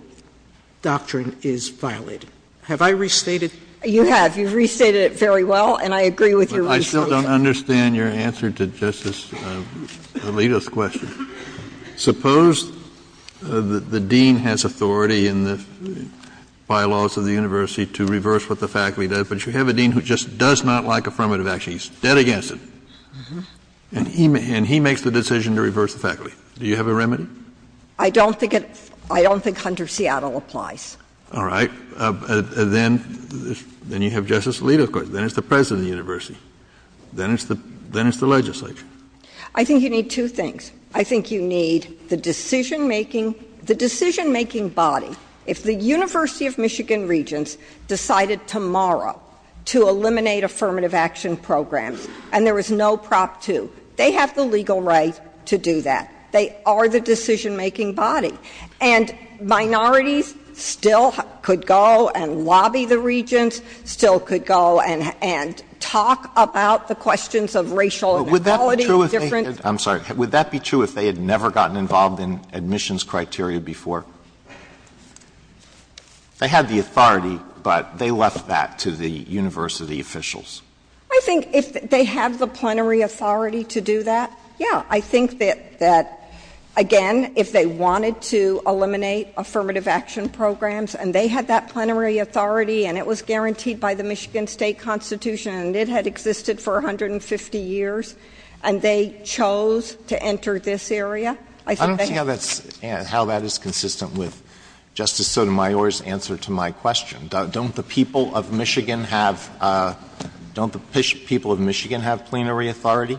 doctrine is violated. Have I restated? You have. You've restated it very well, and I agree with your explanation. But I still don't understand your answer to Justice Alito's question. Suppose the dean has authority in the bylaws of the university to reverse what the faculty does, but you have a dean who just does not like affirmative action. He's dead against it. And he makes the decision to reverse the faculty. Do you have a remedy? I don't think it's — I don't think Hunter-Seattle applies. All right. Then — then you have Justice Alito's question. Then it's the president of the university. Then it's the — then it's the legislature. I think you need two things. I think you need the decision-making — the decision-making body. If the University of Michigan Regents decided tomorrow to eliminate affirmative action programs and there was no Prop 2, they have the legal right to do that. They are the decision-making body. And minorities still could go and lobby the regents, still could go and — and talk about the questions of racial inequality and different — But would that be true if they — I'm sorry. Would that be true if they had never gotten involved in admissions criteria before? They had the authority, but they left that to the university officials. I think if they have the plenary authority to do that, yeah. I think that — that, again, if they wanted to eliminate affirmative action programs and they had that plenary authority and it was guaranteed by the Michigan State Constitution and it had existed for 150 years and they chose to enter this area, I think they have — I don't see how that's — how that is consistent with Justice Sotomayor's answer to my question. Don't the people of Michigan have — don't the people of Michigan have plenary authority?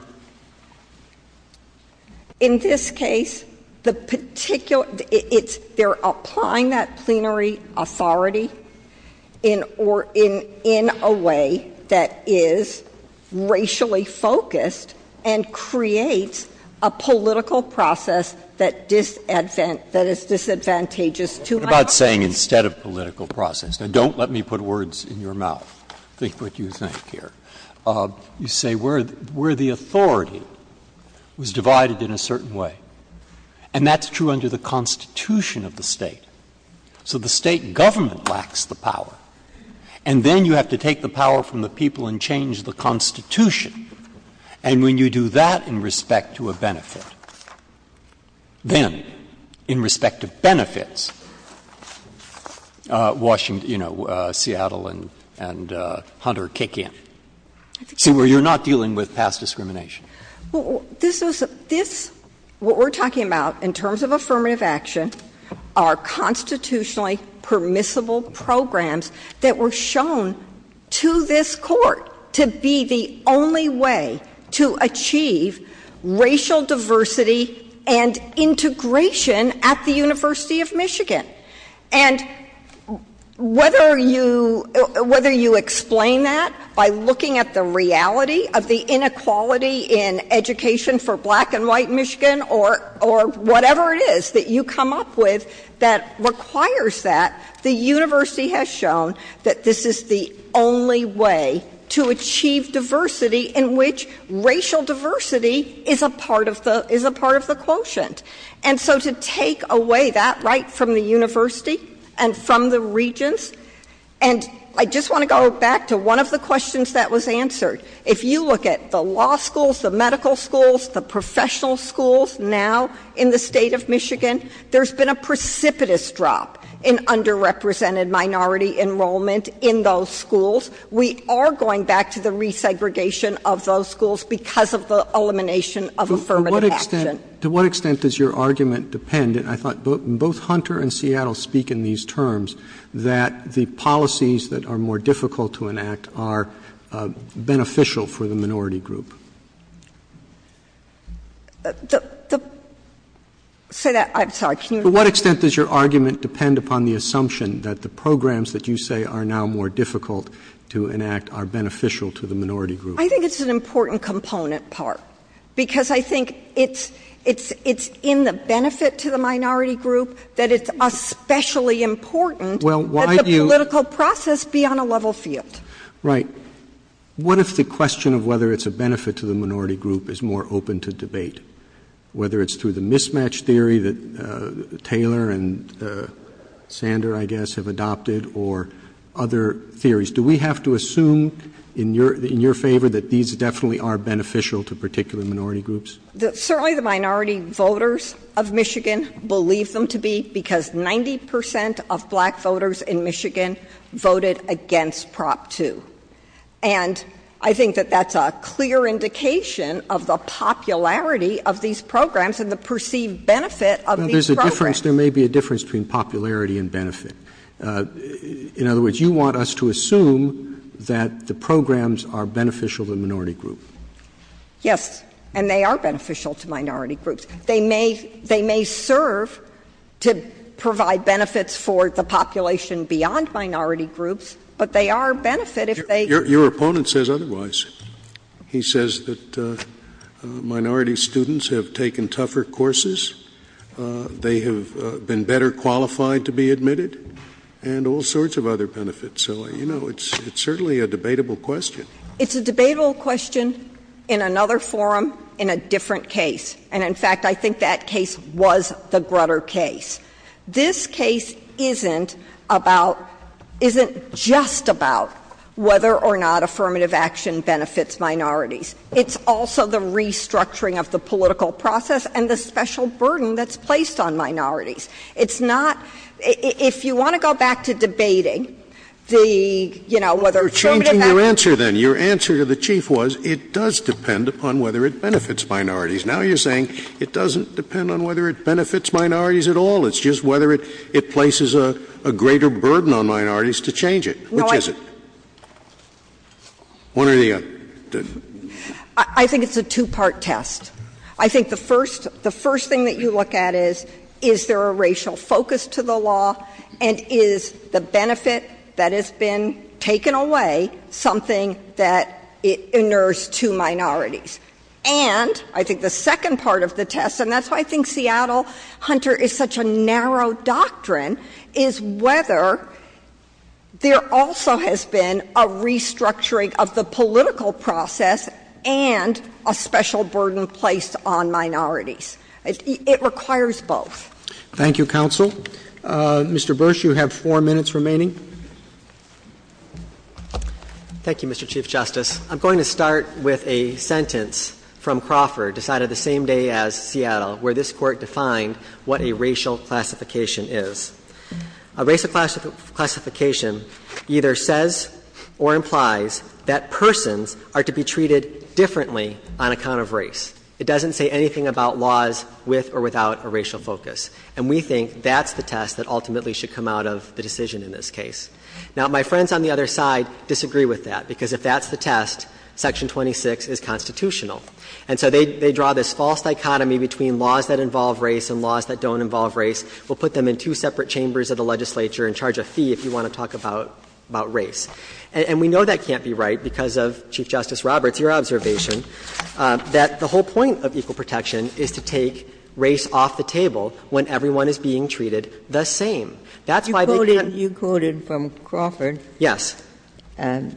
In this case, the particular — it's — they're applying that plenary authority in — or in a way that is racially focused and creates a political process that is disadvantageous to my question. What about saying instead of political process? Now, don't let me put words in your mouth. Think what you think here. You say where the authority was divided in a certain way. And that's true under the Constitution of the State. So the State government lacks the power. And then you have to take the power from the people and change the Constitution. And when you do that in respect to a benefit, then, in respect to benefits, Washington — you know, Seattle and Hunter kick in. So you're not dealing with past discrimination. Well, this was — this — what we're talking about in terms of affirmative action are constitutionally permissible programs that were shown to this Court to be the only way to achieve racial diversity and integration at the University of Michigan. And whether you — whether you explain that by looking at the reality of the inequality in education for black and white Michigan or whatever it is that you come up with that requires that, the university has shown that this is the only way to achieve diversity in which racial diversity is a part of the — is a part of the quotient. And so to take away that right from the university and from the regents — and I just want to go back to one of the questions that was answered. If you look at the law schools, the medical schools, the professional schools now in the state of Michigan, there's been a precipitous drop in underrepresented minority enrollment in those schools. We are going back to the resegregation of those schools because of the elimination of affirmative action. To what extent does your argument depend — and I thought both Hunter and Seattle speak in these terms — that the policies that are more difficult to enact are beneficial for the minority group? Say that — I'm sorry. To what extent does your argument depend upon the assumption that the programs that you say are now more difficult to enact are beneficial to the minority group? I think it's an important component part because I think it's — it's — it's in the benefit to the minority group that it's especially important that the political process be on a level field. Right. What if the question of whether it's a benefit to the minority group is more open to debate, whether it's through the mismatch theory that Taylor and Sander, I guess, have adopted or other theories? Do we have to assume in your — in your favor that these definitely are beneficial to particular minority groups? Certainly the minority voters of Michigan believe them to be because 90 percent of black voters in Michigan voted against Prop 2. And I think that that's a clear indication of the popularity of these programs and the perceived benefit of these programs. There's a difference. There may be a difference between popularity and benefit. In other words, you want us to assume that the programs are beneficial to the minority group. Yes. And they are beneficial to minority groups. They may — they may serve to provide benefits for the population beyond minority groups, but they are a benefit if they — Your opponent says otherwise. He says that minority students have taken tougher courses. They have been better qualified to be admitted and all sorts of other benefits. So, you know, it's certainly a debatable question. It's a debatable question in another forum in a different case. And, in fact, I think that case was the Grutter case. This case isn't about — isn't just about whether or not affirmative action benefits minorities. It's also the restructuring of the political process and the special burden that's placed on minorities. It's not — if you want to go back to debating the, you know, whether affirmative action — You're changing your answer, then. Your answer to the Chief was it does depend upon whether it benefits minorities. Now you're saying it doesn't depend on whether it benefits minorities at all. It's just whether it places a greater burden on minorities to change it. Which is it? One or the other. I think it's a two-part test. I think the first — the first thing that you look at is, is there a racial focus to the law, and is the benefit that has been taken away something that inures two minorities. And I think the second part of the test, and that's why I think Seattle Hunter is such a narrow doctrine, is whether there also has been a restructuring of the political process and a special burden placed on minorities. It requires both. Thank you, counsel. Mr. Bush, you have four minutes remaining. Thank you, Mr. Chief Justice. I'm going to start with a sentence from Crawford decided the same day as Seattle where this Court defined what a racial classification is. A racial classification either says or implies that persons are to be treated differently on account of race. It doesn't say anything about laws with or without a racial focus. And we think that's the test that ultimately should come out of the decision in this case. Now, my friends on the other side disagree with that, because if that's the test, Section 26 is constitutional. And so they draw this false dichotomy between laws that involve race and laws that don't involve race. We'll put them in two separate chambers of the legislature and charge a fee if you want to talk about race. And we know that can't be right because of, Chief Justice Roberts, your observation that the whole point of equal protection is to take race off the table when everyone is being treated the same. That's why they can't be treated the same. You quoted from Crawford. Yes. There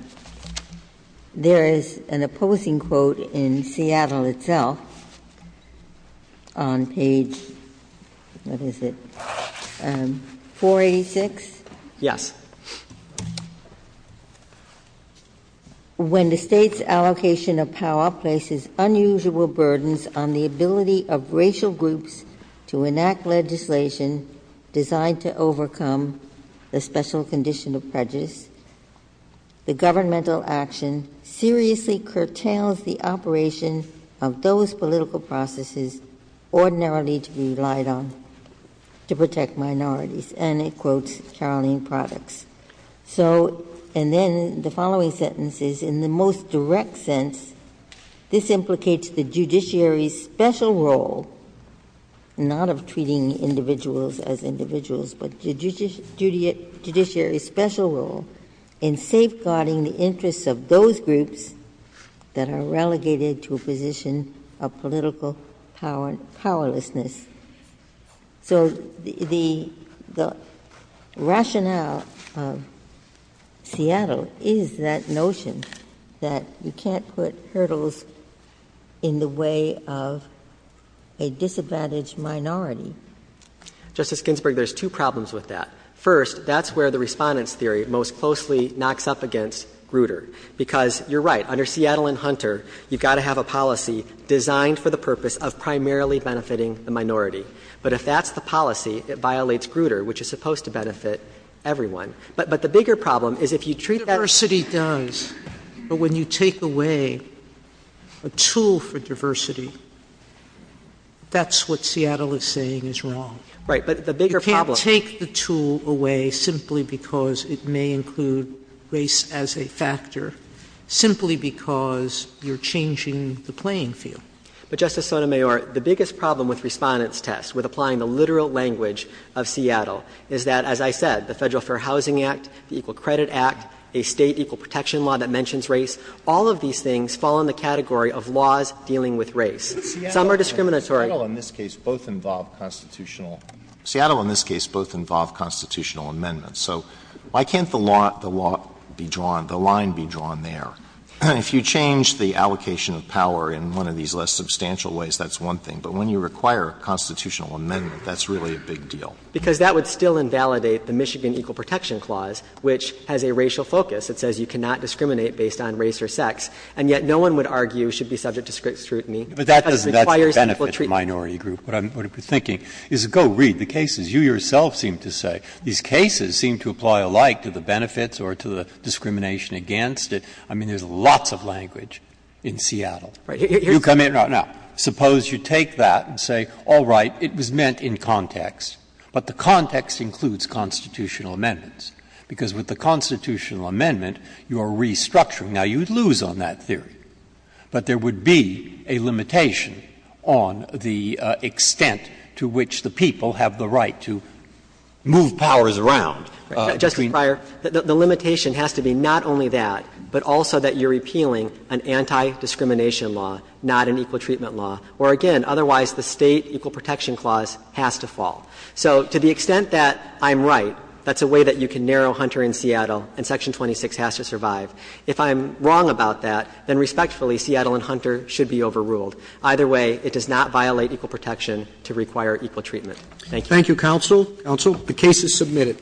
is an opposing quote in Seattle itself on page, what is it, 486? Yes. When the State's allocation of power places unusual burdens on the ability of racial The governmental action seriously curtails the operation of those political processes ordinarily to be relied on to protect minorities. And it quotes Caroline Products. So, and then the following sentence is, in the most direct sense, this implicates the judiciary's special role, not of treating individuals as individuals, but the judiciary's special role in safeguarding the interests of those groups that are relegated to a position of political powerlessness. So the rationale of Seattle is that notion that you can't put hurdles in the way of a disadvantaged minority. Justice Ginsburg, there's two problems with that. First, that's where the Respondent's theory most closely knocks up against Grutter, because you're right. Under Seattle and Hunter, you've got to have a policy designed for the purpose of primarily benefiting the minority. But if that's the policy, it violates Grutter, which is supposed to benefit everyone. But the bigger problem is if you treat that as Diversity does. But when you take away a tool for diversity, that's what Seattle is saying is wrong. Right. But the bigger problem You take the tool away simply because it may include race as a factor, simply because you're changing the playing field. But, Justice Sotomayor, the biggest problem with Respondent's test, with applying the literal language of Seattle, is that, as I said, the Federal Fair Housing Act, the Equal Credit Act, a state equal protection law that mentions race, all of these things fall in the category of laws dealing with race. Some are discriminatory. Seattle, in this case, both involve constitutional amendments. So why can't the law be drawn, the line be drawn there? If you change the allocation of power in one of these less substantial ways, that's one thing. But when you require a constitutional amendment, that's really a big deal. Because that would still invalidate the Michigan Equal Protection Clause, which has a racial focus. It says you cannot discriminate based on race or sex. And yet no one would argue it should be subject to strict scrutiny. Breyer's acceptable treaty. Breyer's acceptable treat. Breyer's acceptable treaty. But that's the benefit of the minority group. What I'm thinking is, go read the cases. You, yourself, seem to say. These cases seem to apply alike to the benefits or to the discrimination against it. I mean, there's lots of language in Seattle. You come in and out. Now, suppose you take that and say, all right, it was meant in context, but the context includes constitutional amendments. Because with the constitutional amendment, you are restructuring. Now, you'd lose on that theory. But there would be a limitation on the extent to which the people have the right to move powers around. Justice Breyer, the limitation has to be not only that, but also that you're repealing an anti-discrimination law, not an equal treatment law, where, again, otherwise the State Equal Protection Clause has to fall. So to the extent that I'm right, that's a way that you can narrow Hunter in Seattle and Section 26 has to survive. If I'm wrong about that, then respectfully, Seattle and Hunter should be overruled. Either way, it does not violate equal protection to require equal treatment. Thank you. Roberts. Thank you, counsel. Counsel. The case is submitted.